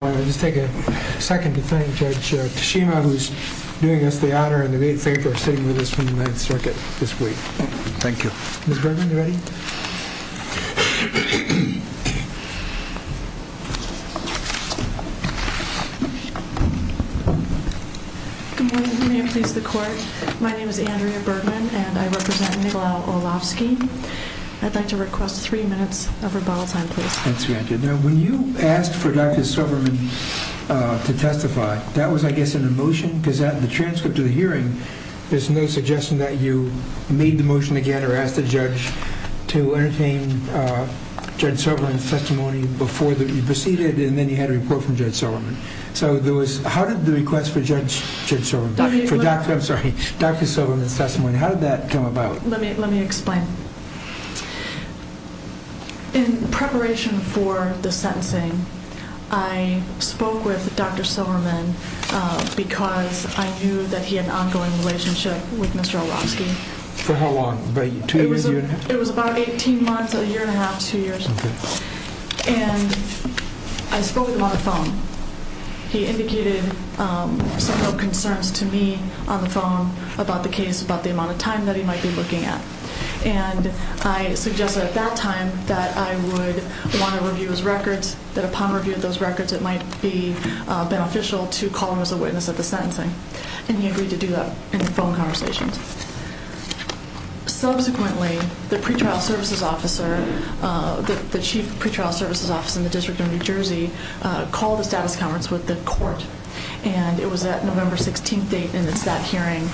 I'd like to take a second to thank Judge Tashima who's doing us the honor and the great favor of sitting with us from the Ninth Circuit this week. Thank you. Ms. Bergman, are you ready? Good morning. May it please the Court, my name is Andrea Bergman and I represent Miguel Olhovsky. I'd like to request three minutes of rebuttal time, please. When you asked for Dr. Silverman to testify, that was I guess in a motion? Because at the transcript of the hearing, there's no suggestion that you made the motion again or asked the judge to entertain Judge Silverman's testimony before you proceeded and then you had a report from Judge Silverman. So how did the request for Judge Silverman's testimony, how did that come about? Let me explain. In preparation for the sentencing, I spoke with Dr. Silverman because I knew that he had an ongoing relationship with Mr. Olhovsky. For how long? Two years? It was about 18 months, a year and a half, two years. He indicated some concerns to me on the phone about the case, about the amount of time that he might be looking at. And I suggested at that time that I would want to review his records, that upon review of those records it might be beneficial to call him as a witness at the sentencing. And he agreed to do that in the phone conversations. Subsequently, the pretrial services officer, the chief pretrial services officer in the District of New Jersey, called a status conference with the court. And it was at November 16th date and it's that hearing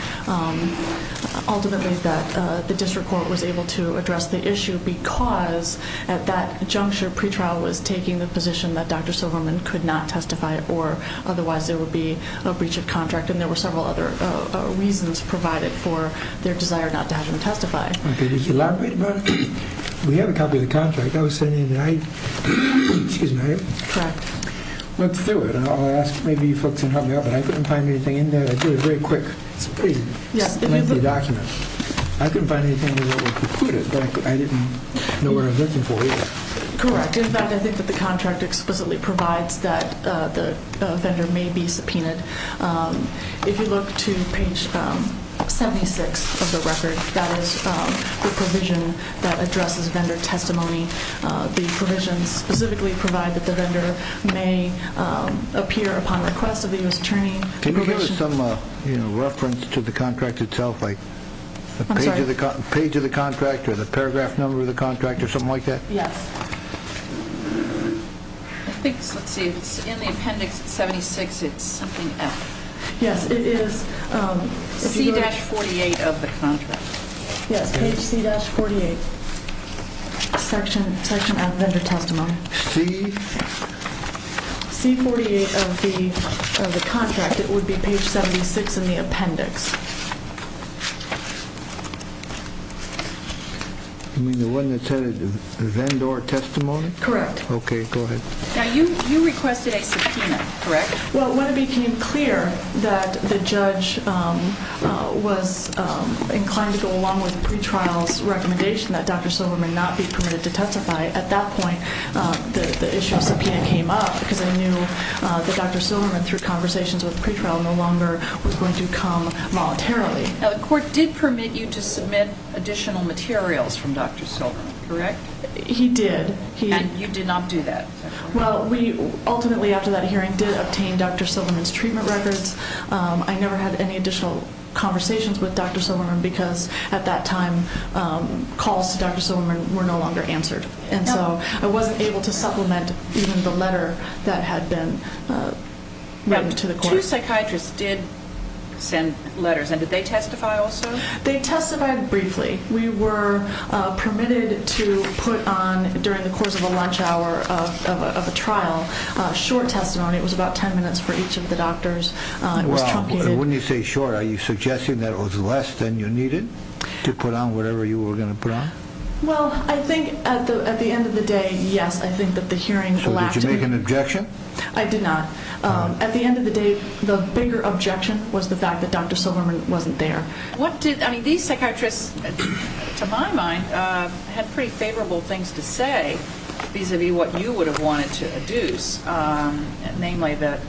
ultimately that the district court was able to address the issue because at that juncture, pretrial was taking the position that Dr. Silverman could not testify or otherwise there would be a breach of contract. And there were several other reasons provided for their desire not to have him testify. Okay, did you elaborate about it? We have a copy of the contract that was sent in tonight. Excuse me. Correct. Let's do it. I'll ask maybe you folks can help me out, but I couldn't find anything in there. It's really very quick. It's a pretty lengthy document. I couldn't find anything in there that would preclude it, but I didn't know what I was looking for either. Correct. In fact, I think that the contract explicitly provides that the offender may be subpoenaed. If you look to page 76 of the record, that is the provision that addresses vendor testimony. The provisions specifically provide that the vendor may appear upon request of the U.S. Attorney. Can you give us some reference to the contract itself, like the page of the contract or the paragraph number of the contract or something like that? Yes. Let's see. In the appendix 76, it's something else. Yes, it is. C-48 of the contract. Yes, page C-48, section on vendor testimony. C? C-48 of the contract, it would be page 76 in the appendix. You mean the one that said vendor testimony? Correct. Okay, go ahead. Now, you requested a subpoena, correct? Well, when it became clear that the judge was inclined to go along with pretrial's recommendation that Dr. Silverman not be permitted to testify, at that point the issue of subpoena came up because they knew that Dr. Silverman, through conversations with pretrial, no longer was going to come voluntarily. Now, the court did permit you to submit additional materials from Dr. Silverman, correct? He did. And you did not do that? Well, we ultimately, after that hearing, did obtain Dr. Silverman's treatment records. I never had any additional conversations with Dr. Silverman because, at that time, calls to Dr. Silverman were no longer answered. And so I wasn't able to supplement even the letter that had been written to the court. Two psychiatrists did send letters, and did they testify also? They testified briefly. We were permitted to put on, during the course of a lunch hour of a trial, short testimony. It was about 10 minutes for each of the doctors. It was truncated. Well, when you say short, are you suggesting that it was less than you needed to put on whatever you were going to put on? Well, I think, at the end of the day, yes. I think that the hearing elapsed. So did you make an objection? I did not. At the end of the day, the bigger objection was the fact that Dr. Silverman wasn't there. I mean, these psychiatrists, to my mind, had pretty favorable things to say vis-à-vis what you would have wanted to adduce, namely that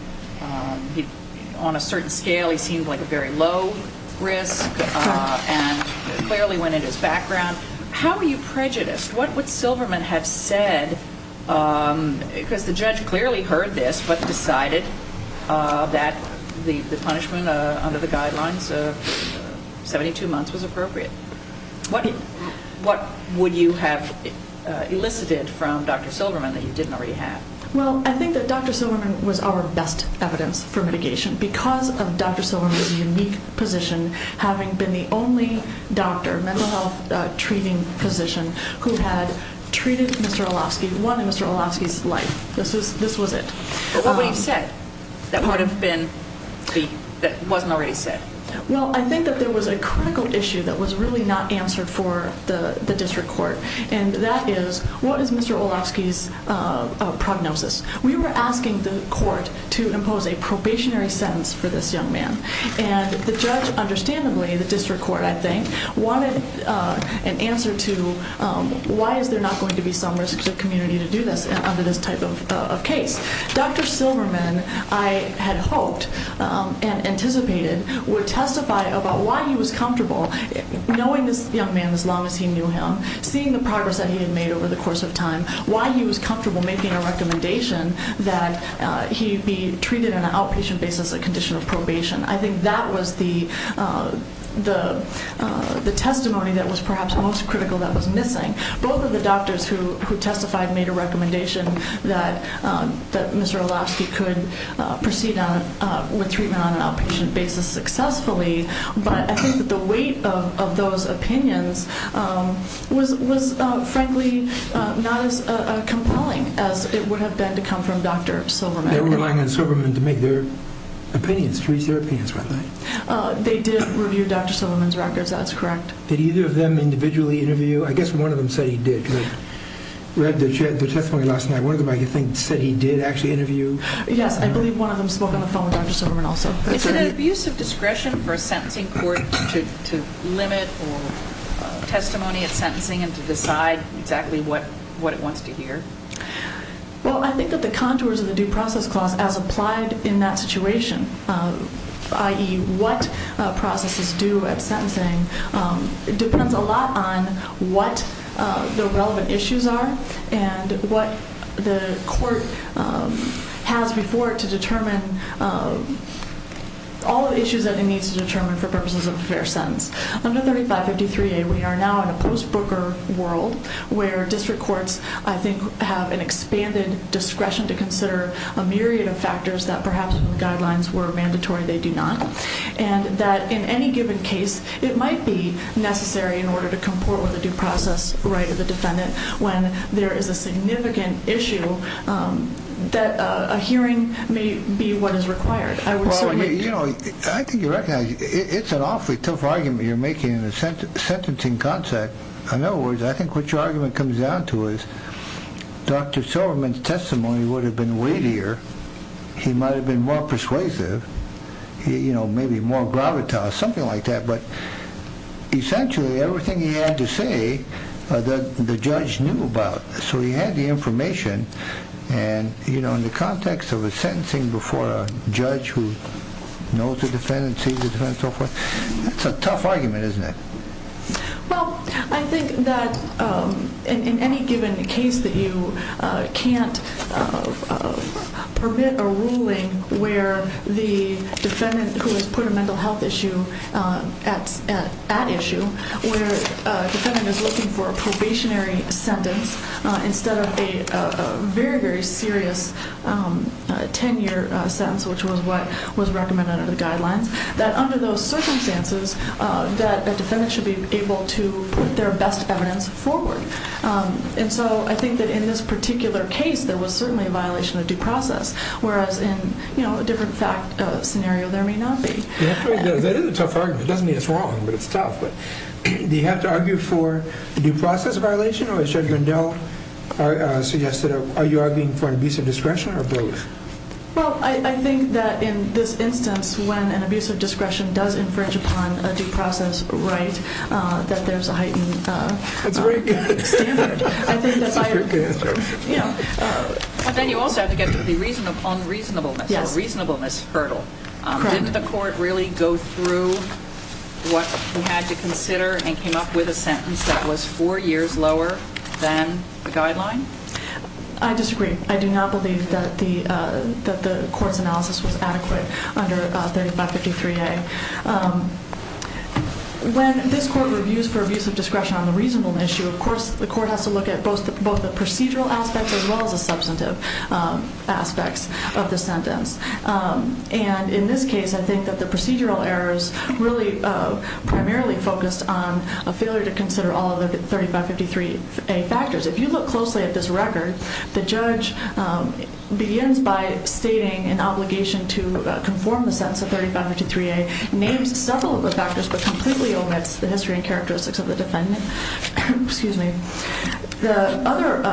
on a certain scale he seemed like a very low risk and clearly went into his background. How were you prejudiced? What would Silverman have said? Because the judge clearly heard this but decided that the punishment under the guidelines of 72 months was appropriate. What would you have elicited from Dr. Silverman that you didn't already have? Well, I think that Dr. Silverman was our best evidence for mitigation because of Dr. Silverman's unique position, having been the only doctor, mental health treating physician, who had treated Mr. Olofsky, won Mr. Olofsky's life. This was it. But what would you have said that wasn't already said? Well, I think that there was a critical issue that was really not answered for the district court, and that is what is Mr. Olofsky's prognosis? We were asking the court to impose a probationary sentence for this young man, and the judge understandably, the district court I think, wanted an answer to why is there not going to be some risk to the community to do this under this type of case. Dr. Silverman, I had hoped and anticipated, would testify about why he was comfortable knowing this young man as long as he knew him, seeing the progress that he had made over the course of time, why he was comfortable making a recommendation that he be treated on an outpatient basis, a condition of probation. I think that was the testimony that was perhaps most critical that was missing. Both of the doctors who testified made a recommendation that Mr. Olofsky could proceed with treatment on an outpatient basis successfully, but I think that the weight of those opinions was frankly not as compelling as it would have been to come from Dr. Silverman. They were relying on Silverman to make their opinions, to reach their opinions, weren't they? They did review Dr. Silverman's records, that's correct. Did either of them individually interview? I guess one of them said he did, because I read their testimony last night. One of them I think said he did actually interview. Yes, I believe one of them spoke on the phone with Dr. Silverman also. Is it an abuse of discretion for a sentencing court to limit testimony at sentencing and to decide exactly what it wants to hear? Well, I think that the contours of the due process clause as applied in that situation, i.e. what processes due at sentencing, depends a lot on what the relevant issues are and what the court has before it to determine all the issues that it needs to determine for purposes of a fair sentence. Under 3553A, we are now in a post-Brooker world where district courts, I think, have an expanded discretion to consider a myriad of factors that perhaps if the guidelines were mandatory, they do not. And that in any given case, it might be necessary in order to comport with a due process right of the defendant when there is a significant issue that a hearing may be what is required. I would certainly... Well, I mean, you know, I think you recognize it's an awfully tough argument you're making in a sentencing concept. In other words, I think what your argument comes down to is Dr. Silverman's testimony would have been weightier. He might have been more persuasive, you know, maybe more gravitas, something like that. But essentially, everything he had to say, the judge knew about. So he had the information. And, you know, in the context of a sentencing before a judge who knows the defendant, sees the defendant, so forth, it's a tough argument, isn't it? Well, I think that in any given case that you can't permit a ruling where the defendant who has put a mental health issue at issue, where a defendant is looking for a probationary sentence instead of a very, very serious 10-year sentence, which was what was recommended under the guidelines, that under those circumstances, that a defendant should be able to put their best evidence forward. And so I think that in this particular case, there was certainly a violation of due process. Whereas in, you know, a different fact scenario, there may not be. That is a tough argument. It doesn't mean it's wrong, but it's tough. But do you have to argue for a due process violation or, as Judge Vendel suggested, are you arguing for an abusive discretion or both? Well, I think that in this instance, when an abusive discretion does infringe upon a due process right, that there's a heightened standard. That's a very good answer. But then you also have to get to the reason of unreasonableness or reasonableness hurdle. Didn't the court really go through what we had to consider and came up with a sentence that was four years lower than the guideline? I disagree. I do not believe that the court's analysis was adequate under 3553A. When this court reviews for abusive discretion on the reasonableness issue, of course, the court has to look at both the procedural aspects as well as the substantive aspects of the sentence. And in this case, I think that the procedural errors really primarily focused on a failure to consider all of the 3553A factors. If you look closely at this record, the judge begins by stating an obligation to conform the sentence of 3553A, names several of the factors, but completely omits the history and characteristics of the defendant. The other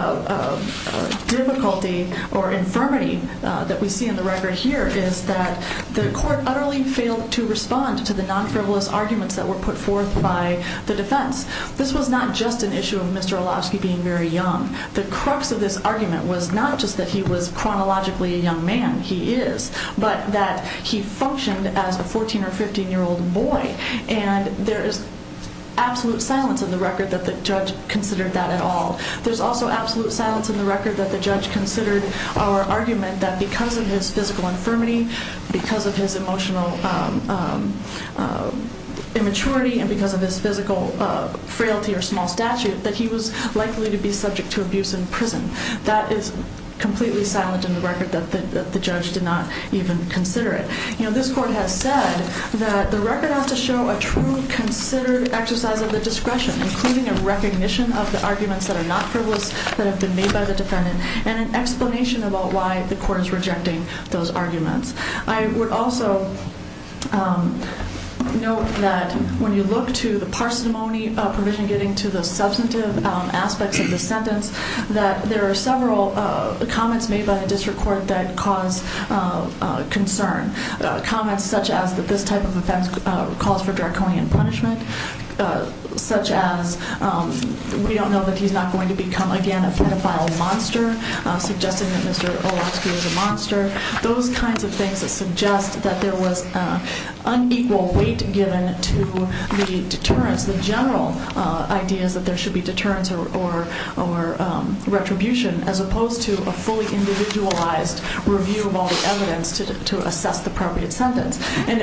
difficulty or infirmity that we see in the record here is that the court utterly failed to respond to the non-frivolous arguments that were put forth by the defense. This was not just an issue of Mr. Olavsky being very young. The crux of this argument was not just that he was chronologically a young man, he is, but that he functioned as a 14 or 15-year-old boy. And there is absolute silence in the record that the judge considered that at all. There's also absolute silence in the record that the judge considered our argument that because of his physical infirmity, because of his emotional immaturity, and because of his physical frailty or small statute, that he was likely to be subject to abuse in prison. That is completely silent in the record that the judge did not even consider it. This court has said that the record has to show a true, considered exercise of the discretion, including a recognition of the arguments that are not frivolous, that have been made by the defendant, and an explanation about why the court is rejecting those arguments. I would also note that when you look to the parsimony provision getting to the substantive aspects of the sentence, that there are several comments made by the district court that cause concern. Comments such as that this type of offense calls for draconian punishment, such as we don't know that he's not going to become, again, a pedophile monster, suggesting that Mr. Olowski is a monster. Those kinds of things that suggest that there was unequal weight given to the deterrence, the general ideas that there should be deterrence or retribution, as opposed to a fully individualized review of all the evidence to assess the appropriate sentence. And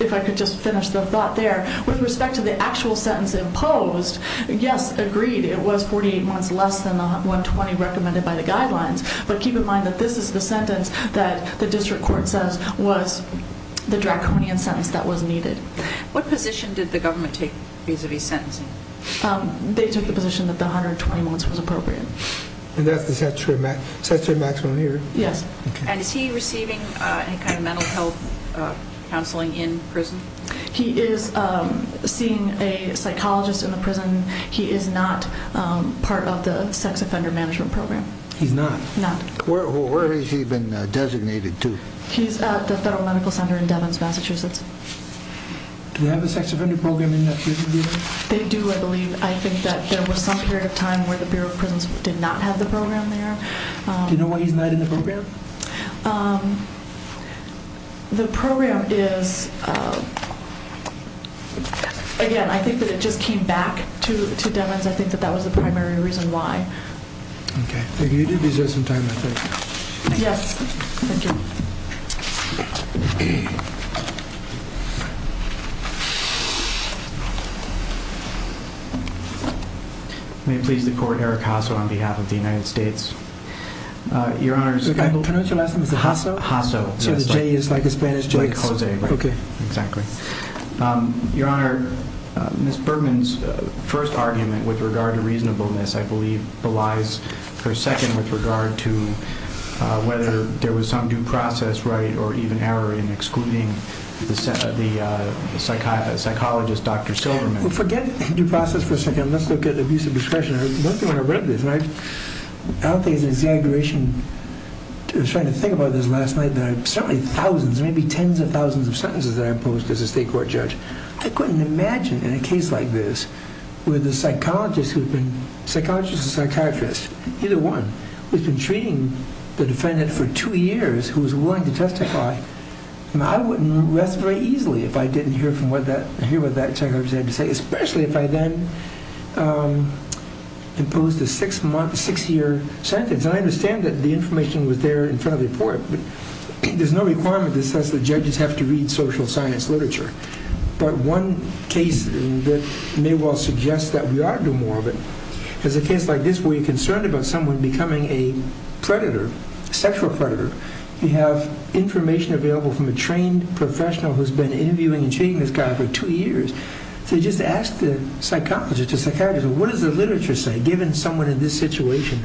if I could just finish the thought there, with respect to the actual sentence imposed, yes, agreed, it was 48 months less than the 120 recommended by the guidelines. But keep in mind that this is the sentence that the district court says was the draconian sentence that was needed. What position did the government take vis-a-vis sentencing? They took the position that the 120 months was appropriate. And that's the statutory maximum here? Yes. And is he receiving any kind of mental health counseling in prison? He is seeing a psychologist in the prison. He is not part of the sex offender management program. He's not? Not. Where has he been designated to? He's at the Federal Medical Center in Devons, Massachusetts. Do they have a sex offender program in that prison, do they? They do, I believe. I think that there was some period of time where the Bureau of Prisons did not have the program there. Do you know why he's not in the program? The program is, again, I think that it just came back to Devons. I think that that was the primary reason why. Okay. You do deserve some time, I think. Yes. Thank you. May it please the Court, Eric Hasso on behalf of the United States. Your Honor. Can I pronounce your last name? Hasso. Hasso. So the J is like a Spanish J? It's like Jose. Okay. Exactly. Your Honor, Ms. Bergman's first argument with regard to reasonableness, I believe, relies for a second with regard to whether there was some due process with respect to the right or even error in excluding the psychologist, Dr. Silverman. Forget due process for a second. Let's look at abuse of discretion. I don't think I want to break this. I don't think it's an exaggeration. I was trying to think about this last night. There are certainly thousands, maybe tens of thousands of sentences that are imposed as a state court judge. I couldn't imagine in a case like this where the psychologist who had been, psychologist or psychiatrist, either one, who had been treating the defendant for two years who was willing to testify. I wouldn't rest very easily if I didn't hear what that psychiatrist had to say, especially if I then imposed a six-year sentence. And I understand that the information was there in front of the court, but there's no requirement to assess that judges have to read social science literature. But one case that may well suggest that we ought to do more of it is a case like this where you're concerned about someone becoming a predator, sexual predator. You have information available from a trained professional who's been interviewing and treating this guy for two years. So you just ask the psychologist or psychiatrist, what does the literature say given someone in this situation,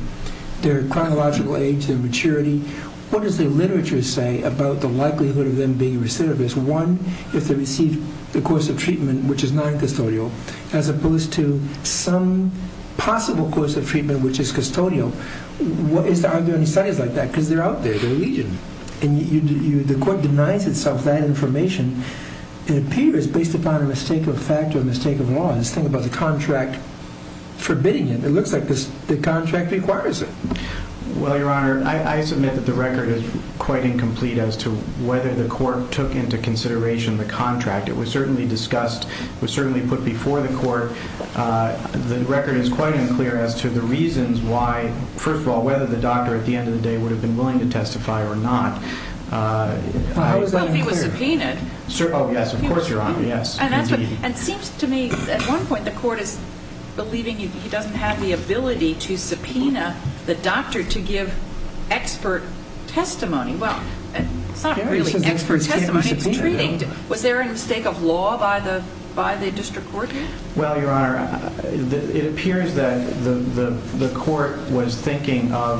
their chronological age, their maturity, what does the literature say about the likelihood of them being recidivist? One, if they receive the course of treatment which is noncustodial as opposed to some possible course of treatment which is custodial, are there any studies like that? Because they're out there, they're legion. And the court denies itself that information. It appears, based upon a mistake of fact or a mistake of law, this thing about the contract forbidding it, it looks like the contract requires it. Well, Your Honor, I submit that the record is quite incomplete as to whether the court took into consideration the contract. It was certainly discussed, it was certainly put before the court. The record is quite unclear as to the reasons why, first of all, whether the doctor at the end of the day would have been willing to testify or not. Well, if he was subpoenaed. Oh, yes, of course, Your Honor, yes, indeed. And it seems to me at one point the court is believing he doesn't have the ability to subpoena the doctor to give expert testimony. Well, it's not really expert testimony. Was there a mistake of law by the district court? Well, Your Honor, it appears that the court was thinking of,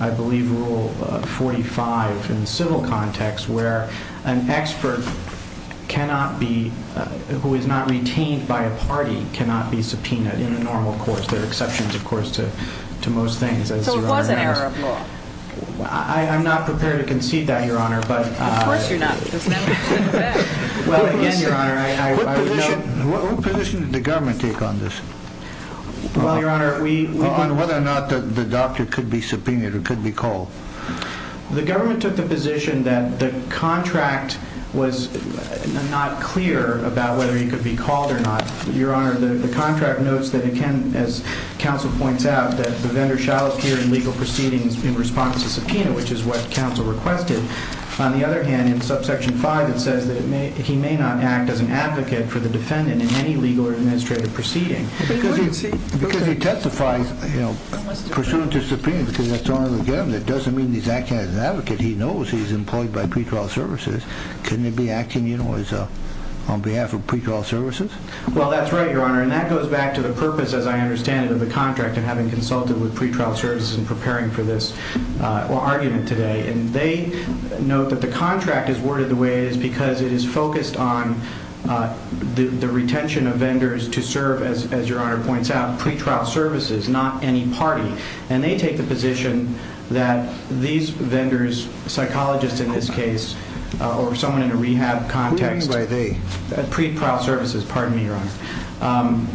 I believe, Rule 45 in civil context where an expert cannot be, who is not retained by a party, cannot be subpoenaed in a normal court. There are exceptions, of course, to most things. So it was an error of law. I'm not prepared to concede that, Your Honor. Of course you're not. Well, again, Your Honor, I would note— What position did the government take on this? Well, Your Honor, we— On whether or not the doctor could be subpoenaed or could be called. The government took the position that the contract was not clear about whether he could be called or not. Your Honor, the contract notes that it can, as counsel points out, that the vendor shall appear in legal proceedings in response to subpoena, which is what counsel requested. On the other hand, in subsection 5, it says that he may not act as an advocate for the defendant in any legal or administrative proceeding. Because he testifies, you know, pursuant to subpoena, because that's the only way to get him, that doesn't mean he's acting as an advocate. He knows he's employed by pretrial services. Couldn't he be acting, you know, on behalf of pretrial services? Well, that's right, Your Honor, and that goes back to the purpose, as I understand it, of the contract and having consulted with pretrial services in preparing for this. We're arguing it today, and they note that the contract is worded the way it is because it is focused on the retention of vendors to serve, as Your Honor points out, pretrial services, not any party. And they take the position that these vendors, psychologists in this case, or someone in a rehab context. Who do you mean by they? Pretrial services, pardon me, Your Honor.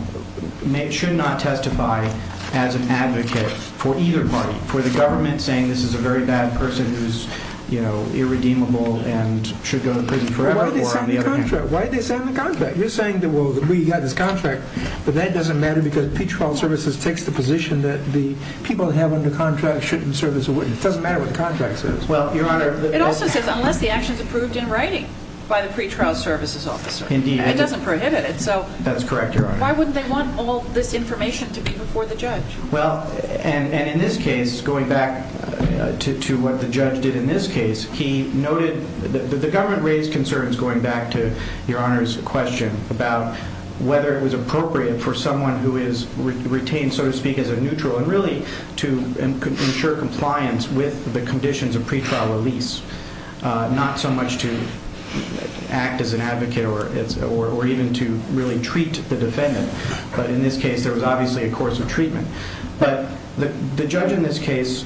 Should not testify as an advocate for either party. For the government saying this is a very bad person who's, you know, irredeemable and should go to prison forever. Why did they sign the contract? You're saying, well, we got this contract, but that doesn't matter because pretrial services takes the position that the people they have under contract shouldn't serve as a witness. It doesn't matter what the contract says. Well, Your Honor, it also says unless the action is approved in writing by the pretrial services officer. Indeed. It doesn't prohibit it. That's correct, Your Honor. Why wouldn't they want all this information to be before the judge? Well, and in this case, going back to what the judge did in this case, he noted that the government raised concerns, going back to Your Honor's question, about whether it was appropriate for someone who is retained, so to speak, as a neutral, and really to ensure compliance with the conditions of pretrial release, not so much to act as an advocate or even to really treat the defendant. But in this case, there was obviously a course of treatment. But the judge in this case,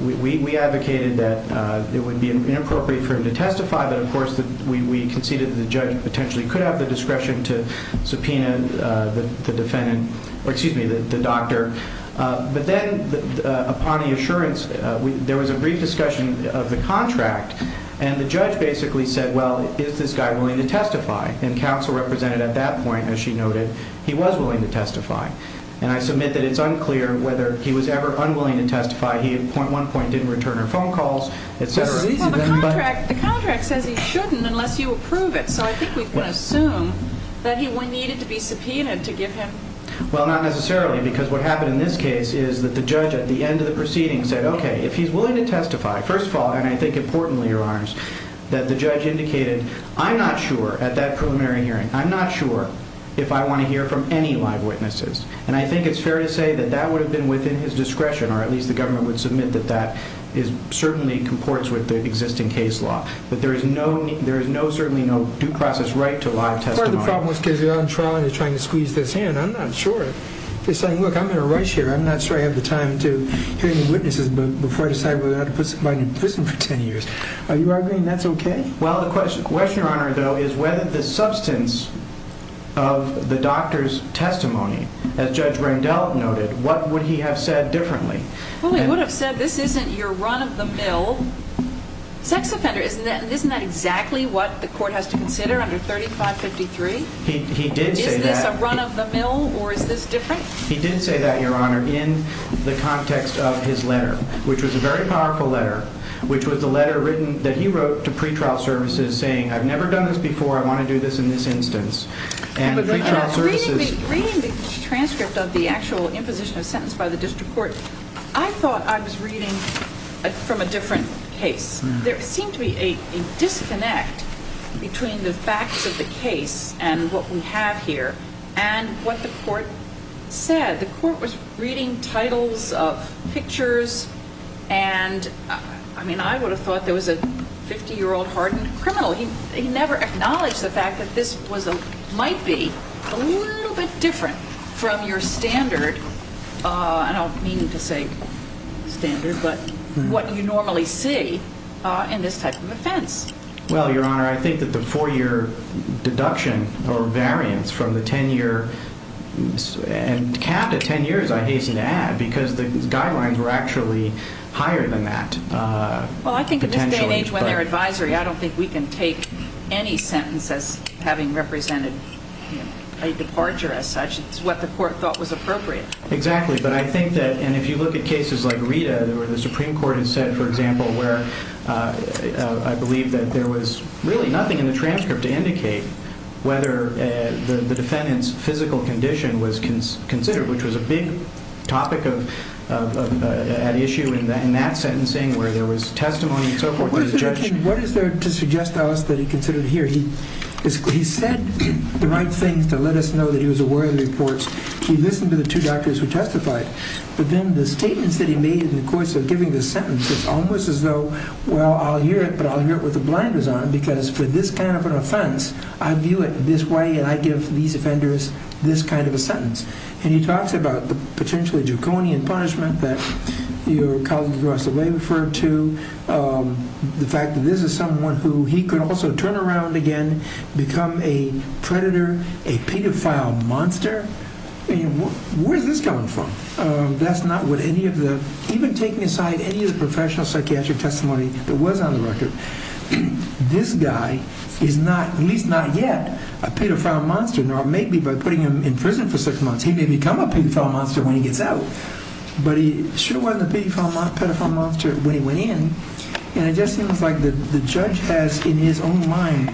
we advocated that it would be inappropriate for him to testify, but, of course, we conceded that the judge potentially could have the discretion to subpoena the defendant, or excuse me, the doctor. But then upon the assurance, there was a brief discussion of the contract, and the judge basically said, well, is this guy willing to testify? And counsel represented at that point, as she noted, he was willing to testify. And I submit that it's unclear whether he was ever unwilling to testify. He at point one point didn't return her phone calls, et cetera. Well, the contract says he shouldn't unless you approve it, so I think we can assume that he needed to be subpoenaed to give him. Well, not necessarily, because what happened in this case is that the judge at the end of the proceeding said, okay, if he's willing to testify, first of all, and I think importantly, Your Honors, that the judge indicated, I'm not sure at that preliminary hearing, I'm not sure if I want to hear from any live witnesses. And I think it's fair to say that that would have been within his discretion, or at least the government would submit that that certainly comports with the existing case law. But there is certainly no due process right to live testimony. My problem was because you're on trial and you're trying to squeeze this in. I'm not sure. They're saying, look, I'm going to rush here. I'm not sure I have the time to hear any witnesses before I decide whether or not to put somebody in prison for 10 years. Are you agreeing that's okay? Well, the question, Your Honor, though, is whether the substance of the doctor's testimony, as Judge Randolph noted, what would he have said differently? Well, he would have said this isn't your run-of-the-mill sex offender. Isn't that exactly what the court has to consider under 3553? He did say that. Is this a run-of-the-mill or is this different? He did say that, Your Honor, in the context of his letter, which was a very powerful letter, which was the letter written that he wrote to pretrial services saying, I've never done this before, I want to do this in this instance. But reading the transcript of the actual imposition of sentence by the district court, I thought I was reading from a different case. There seemed to be a disconnect between the facts of the case and what we have here and what the court said. The court was reading titles of pictures and, I mean, I would have thought there was a 50-year-old hardened criminal. He never acknowledged the fact that this might be a little bit different from your standard, I don't mean to say standard, but what you normally see in this type of offense. Well, Your Honor, I think that the four-year deduction or variance from the 10-year and half the 10 years I hasten to add because the guidelines were actually higher than that. Well, I think in this day and age when they're advisory, I don't think we can take any sentence as having represented a departure as such. It's what the court thought was appropriate. Exactly, but I think that, and if you look at cases like Rita, where the Supreme Court has said, for example, where I believe that there was really nothing in the transcript to indicate whether the defendant's physical condition was considered, which was a big topic at issue in that sentencing where there was testimony and so forth. What is there to suggest to us that he considered here? He said the right things to let us know that he was aware of the reports. He listened to the two doctors who testified, but then the statements that he made in the course of giving this sentence, it's almost as though, well, I'll hear it, but I'll hear it with the blinders on because for this kind of an offense, I view it this way, and I give these offenders this kind of a sentence. And he talks about the potentially draconian punishment that your colleague Russell Way referred to, the fact that this is someone who he could also turn around again, become a predator, a pedophile monster. Where is this coming from? That's not what any of the, even taking aside any of the professional psychiatric testimony that was on the record, this guy is not, at least not yet, a pedophile monster, nor maybe by putting him in prison for six months, he may become a pedophile monster when he gets out, but he sure wasn't a pedophile monster when he went in. And it just seems like the judge has in his own mind,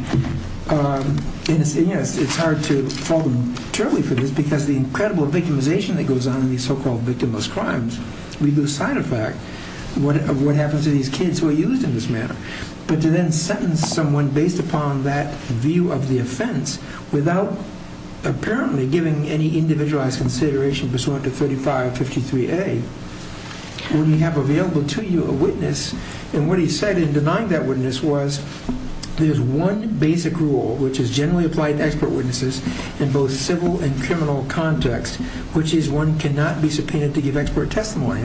and yes, it's hard to fault him totally for this because the incredible victimization that goes on in these so-called victimless crimes, we lose sight of fact of what happens to these kids who are used in this manner. But to then sentence someone based upon that view of the offense without apparently giving any individualized consideration pursuant to 3553A, we have available to you a witness, and what he said in denying that witness was, there's one basic rule which is generally applied to expert witnesses in both civil and criminal context, which is one cannot be subpoenaed to give expert testimony.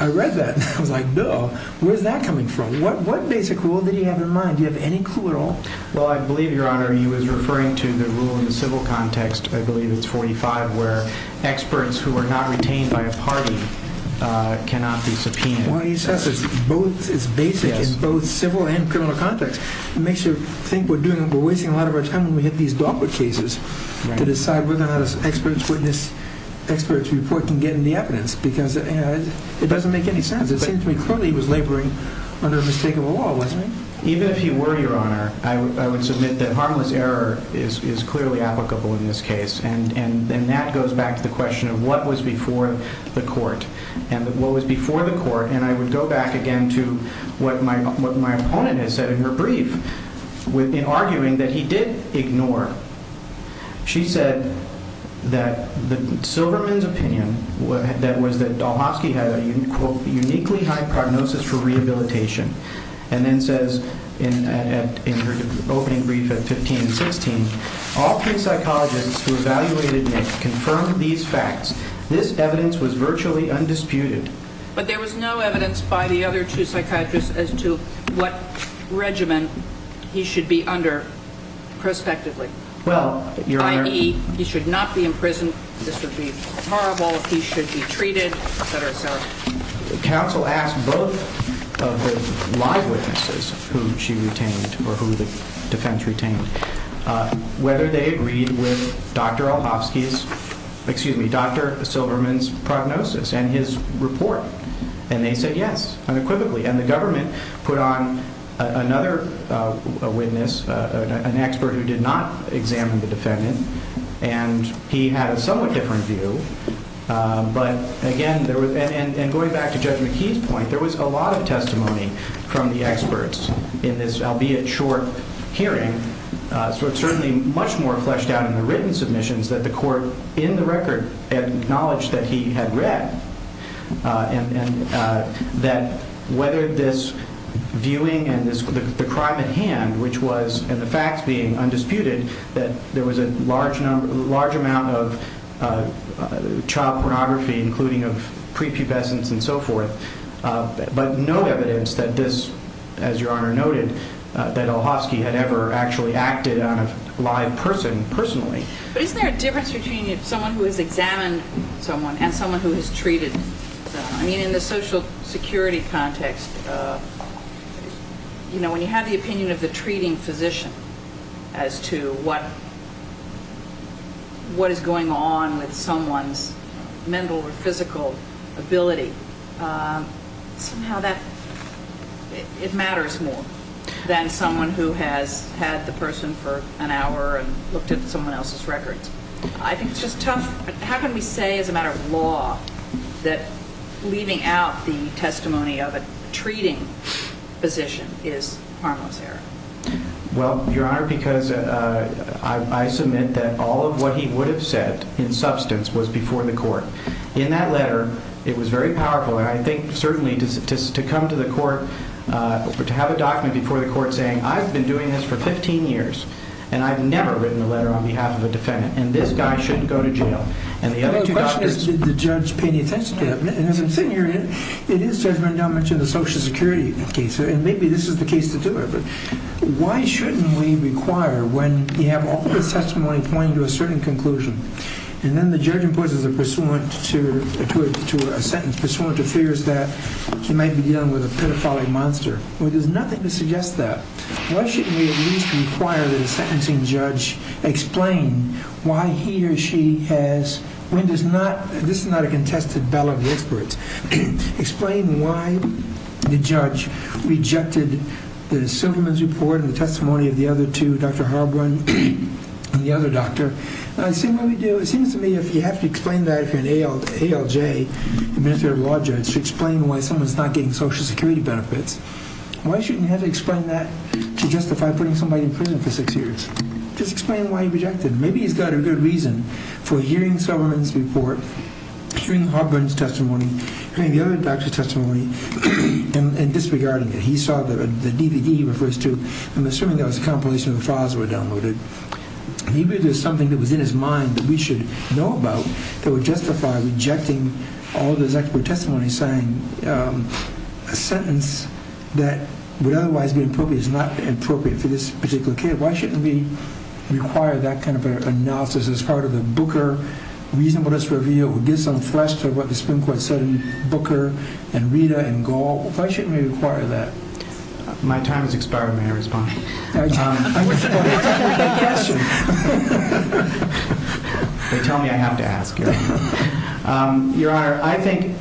I read that and I was like, no, where's that coming from? What basic rule did he have in mind? Do you have any clue at all? Well, I believe, Your Honor, he was referring to the rule in the civil context, I believe it's 45, where experts who are not retained by a party cannot be subpoenaed. Well, he says it's basic in both civil and criminal context. It makes you think we're wasting a lot of our time when we have these dogwood cases to decide whether or not an expert's report can get any evidence because it doesn't make any sense. It seemed to me clearly he was laboring under a mistakable law, wasn't he? Even if he were, Your Honor, I would submit that harmless error is clearly applicable in this case, and that goes back to the question of what was before the court. And what was before the court, and I would go back again to what my opponent has said in her brief. In arguing that he did ignore, she said that Silverman's opinion, that was that Dahlhofsky had a, quote, uniquely high prognosis for rehabilitation, and then says in her opening brief at 15 and 16, all three psychologists who evaluated Nick confirmed these facts. This evidence was virtually undisputed. But there was no evidence by the other two psychiatrists as to what regimen he should be under prospectively. Well, Your Honor. I.e., he should not be imprisoned, this would be horrible, he should be treated, et cetera, et cetera. Counsel asked both of the live witnesses who she retained or who the defense retained whether they agreed with Dr. Dahlhofsky's, excuse me, Dr. Silverman's prognosis and his report. And they said yes, unequivocally. And the government put on another witness, an expert who did not examine the defendant, and he had a somewhat different view. But, again, and going back to Judge McKee's point, there was a lot of testimony from the experts in this albeit short hearing. So it's certainly much more fleshed out in the written submissions that the court in the record acknowledged that he had read. And that whether this viewing and the crime at hand, which was, and the facts being undisputed, that there was a large amount of child pornography, including of prepubescence and so forth, but no evidence that this, as Your Honor noted, that Dahlhofsky had ever actually acted on a live person personally. But isn't there a difference between someone who has examined someone and someone who has treated someone? I mean, in the social security context, you know, given the opinion of the treating physician as to what is going on with someone's mental or physical ability, somehow that, it matters more than someone who has had the person for an hour and looked at someone else's records. I think it's just tough. How can we say as a matter of law that leaving out the testimony of a treating physician is harmless error? Well, Your Honor, because I submit that all of what he would have said in substance was before the court. In that letter, it was very powerful, and I think certainly to come to the court, to have a document before the court saying I've been doing this for 15 years and I've never written a letter on behalf of a defendant and this guy shouldn't go to jail. And the other question is, did the judge pay any attention to that? And as I'm sitting here, it is Judge Rendell mentioned the social security case, and maybe this is the case to do it, but why shouldn't we require when you have all the testimony pointing to a certain conclusion, and then the judge imposes a pursuant to a sentence, pursuant to fears that he might be dealing with a pedophilic monster. Well, there's nothing to suggest that. Why shouldn't we at least require that a sentencing judge explain why he or she has, this is not a contested ballot of experts, explain why the judge rejected the Silverman's report and the testimony of the other two, Dr. Harborne and the other doctor. It seems to me if you have to explain that if you're an ALJ, administrative law judge, you should explain why someone's not getting social security benefits. Why shouldn't you have to explain that to justify putting somebody in prison for six years? Just explain why he rejected. Maybe he's got a good reason for hearing Silverman's report, hearing Harborne's testimony, hearing the other doctor's testimony and disregarding it. He saw the DVD he refers to, I'm assuming that was a compilation of the files that were downloaded. Maybe there's something that was in his mind that we should know about that would justify rejecting all of those expert testimonies saying a sentence that would otherwise be appropriate is not appropriate for this particular case. Why shouldn't we require that kind of analysis as part of the Booker reasonableness review or give some flesh to what the Supreme Court said in Booker and Rita and Gall? Why shouldn't we require that? My time has expired. May I respond? They tell me I have to ask. Your Honor, I think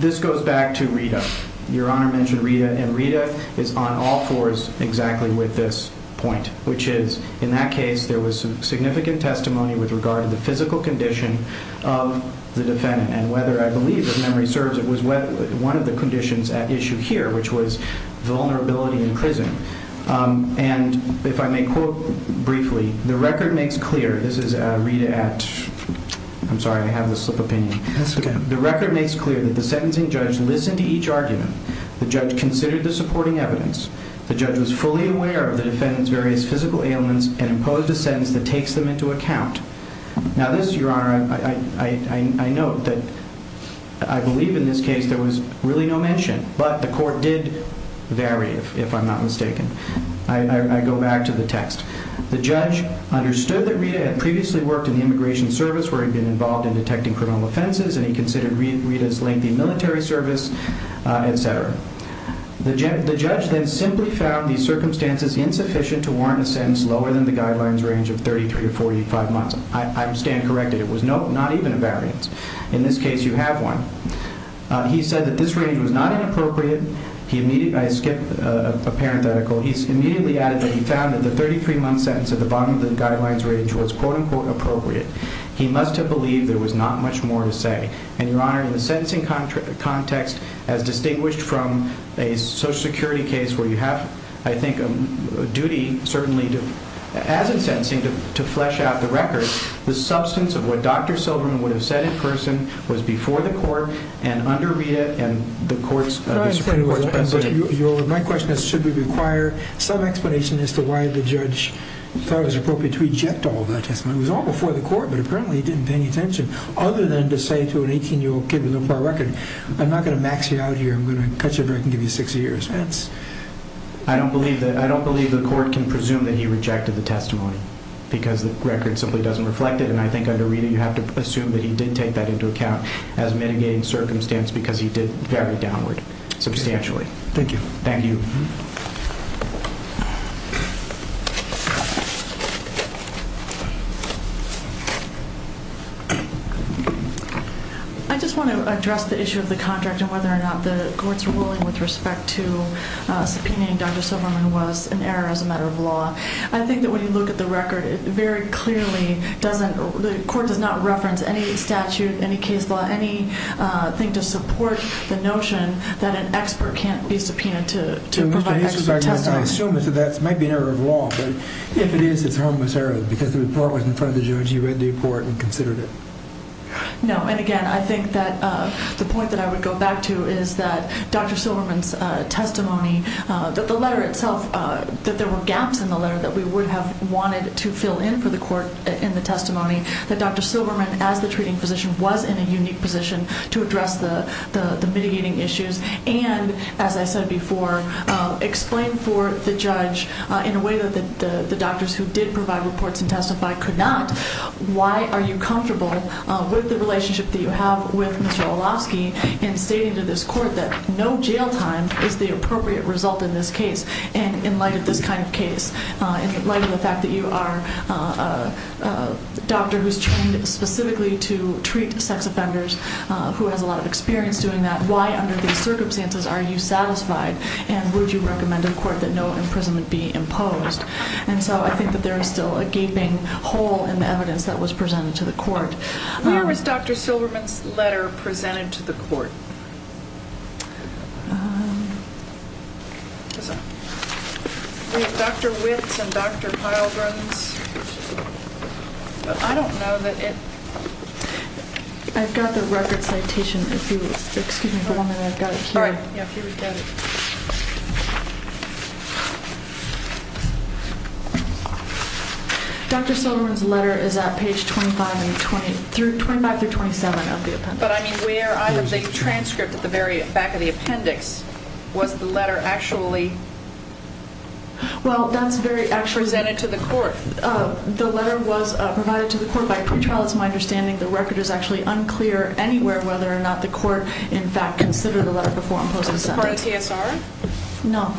this goes back to Rita. Your Honor mentioned Rita and Rita is on all fours exactly with this point, which is in that case there was significant testimony with regard to the physical condition of the defendant and whether I believe if memory serves it was one of the conditions at issue here, which was vulnerability in prison. And if I may quote briefly, the record makes clear that the sentencing judge listened to each argument. The judge considered the supporting evidence. The judge was fully aware of the defendant's various physical ailments and imposed a sentence that takes them into account. Now this, Your Honor, I note that I believe in this case there was really no mention, but the court did vary if I'm not mistaken. I go back to the text. The judge understood that Rita had previously worked in the immigration service where he'd been involved in detecting criminal offenses and he considered Rita's lengthy military service, et cetera. The judge then simply found these circumstances insufficient to warrant a sentence lower than the guidelines range of 33 or 45 months. I stand corrected. It was not even a variance. In this case you have one. He said that this range was not inappropriate. I skipped a parenthetical. He immediately added that he found that the 33-month sentence at the bottom of the guidelines range was, quote-unquote, appropriate. He must have believed there was not much more to say. And, Your Honor, in the sentencing context, as distinguished from a Social Security case where you have, I think, a duty certainly as in sentencing to flesh out the record, the substance of what Dr. Silverman would have said in person was before the court and under Rita and the Supreme Court's precedent. My question is, should we require some explanation as to why the judge thought it was appropriate to reject all of that testimony? It was all before the court, but apparently he didn't pay any attention other than to say to an 18-year-old kid with a little poor record, I'm not going to max you out here. I'm going to cut you a break and give you six years. I don't believe the court can presume that he rejected the testimony because the record simply doesn't reflect it, and I think under Rita you have to assume that he did take that into account as mitigating circumstance because he did very downward substantially. Thank you. Thank you. I just want to address the issue of the contract and whether or not the court's ruling with respect to subpoenaing Dr. Silverman was an error as a matter of law. I think that when you look at the record, it very clearly doesn't, the court does not reference any statute, any case law, any thing to support the notion that an expert can't be subpoenaed to provide expert testimony. I assume that might be an error of law, but if it is, it's a harmless error because the report was in front of the judge. He read the report and considered it. No, and again, I think that the point that I would go back to is that Dr. Silverman's testimony, that the letter itself, that there were gaps in the letter that we would have wanted to fill in for the court in the testimony, that Dr. Silverman, as the treating physician, was in a unique position to address the mitigating issues and, as I said before, explain for the judge in a way that the doctors who did provide reports and testify could not, why are you comfortable with the relationship that you have with Mr. Olofsky in stating to this court that no jail time is the appropriate result in this case and in light of this kind of case, in light of the fact that you are a doctor who's trained specifically to treat sex offenders, who has a lot of experience doing that, why under these circumstances are you satisfied and would you recommend to the court that no imprisonment be imposed? And so I think that there is still a gaping hole in the evidence that was presented to the court. Where was Dr. Silverman's letter presented to the court? We have Dr. Witts and Dr. Pilgrim's. But I don't know that it... I've got the record citation. Excuse me for one minute. I've got it here. All right. Yeah, here we've got it. Dr. Silverman's letter is at page 25 through 27 of the appendix. But I mean where either the transcript at the very back of the appendix was the letter actually presented to the court? The letter was provided to the court by a pretrial. It's my understanding the record is actually unclear anywhere whether or not the court in fact considered the letter before imposing a sentence. Was it part of the TSR? No.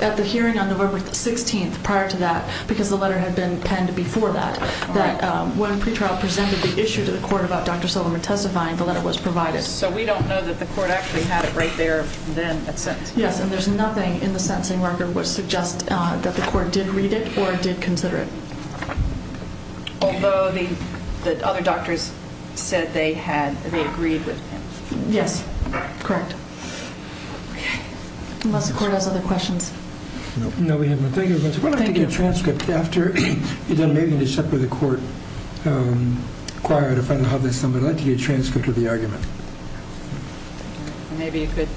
At the hearing on November 16th prior to that because the letter had been penned before that, that when pretrial presented the issue to the court about Dr. Silverman testifying, the letter was provided. So we don't know that the court actually had it right there then at sentencing? Yes, and there's nothing in the sentencing record which suggests that the court did read it or did consider it. Although the other doctors said they agreed with him. Yes, correct. Unless the court has other questions. No, we have none. Thank you. I'd like to get a transcript after you're done. Maybe I need to separate the court choir to find out how this is done. I'd like to get a transcript of the argument. Maybe you could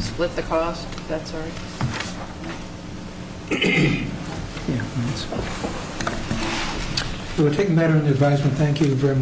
split the cost, if that's all right. We'll take a matter into advisement. Thank you very much.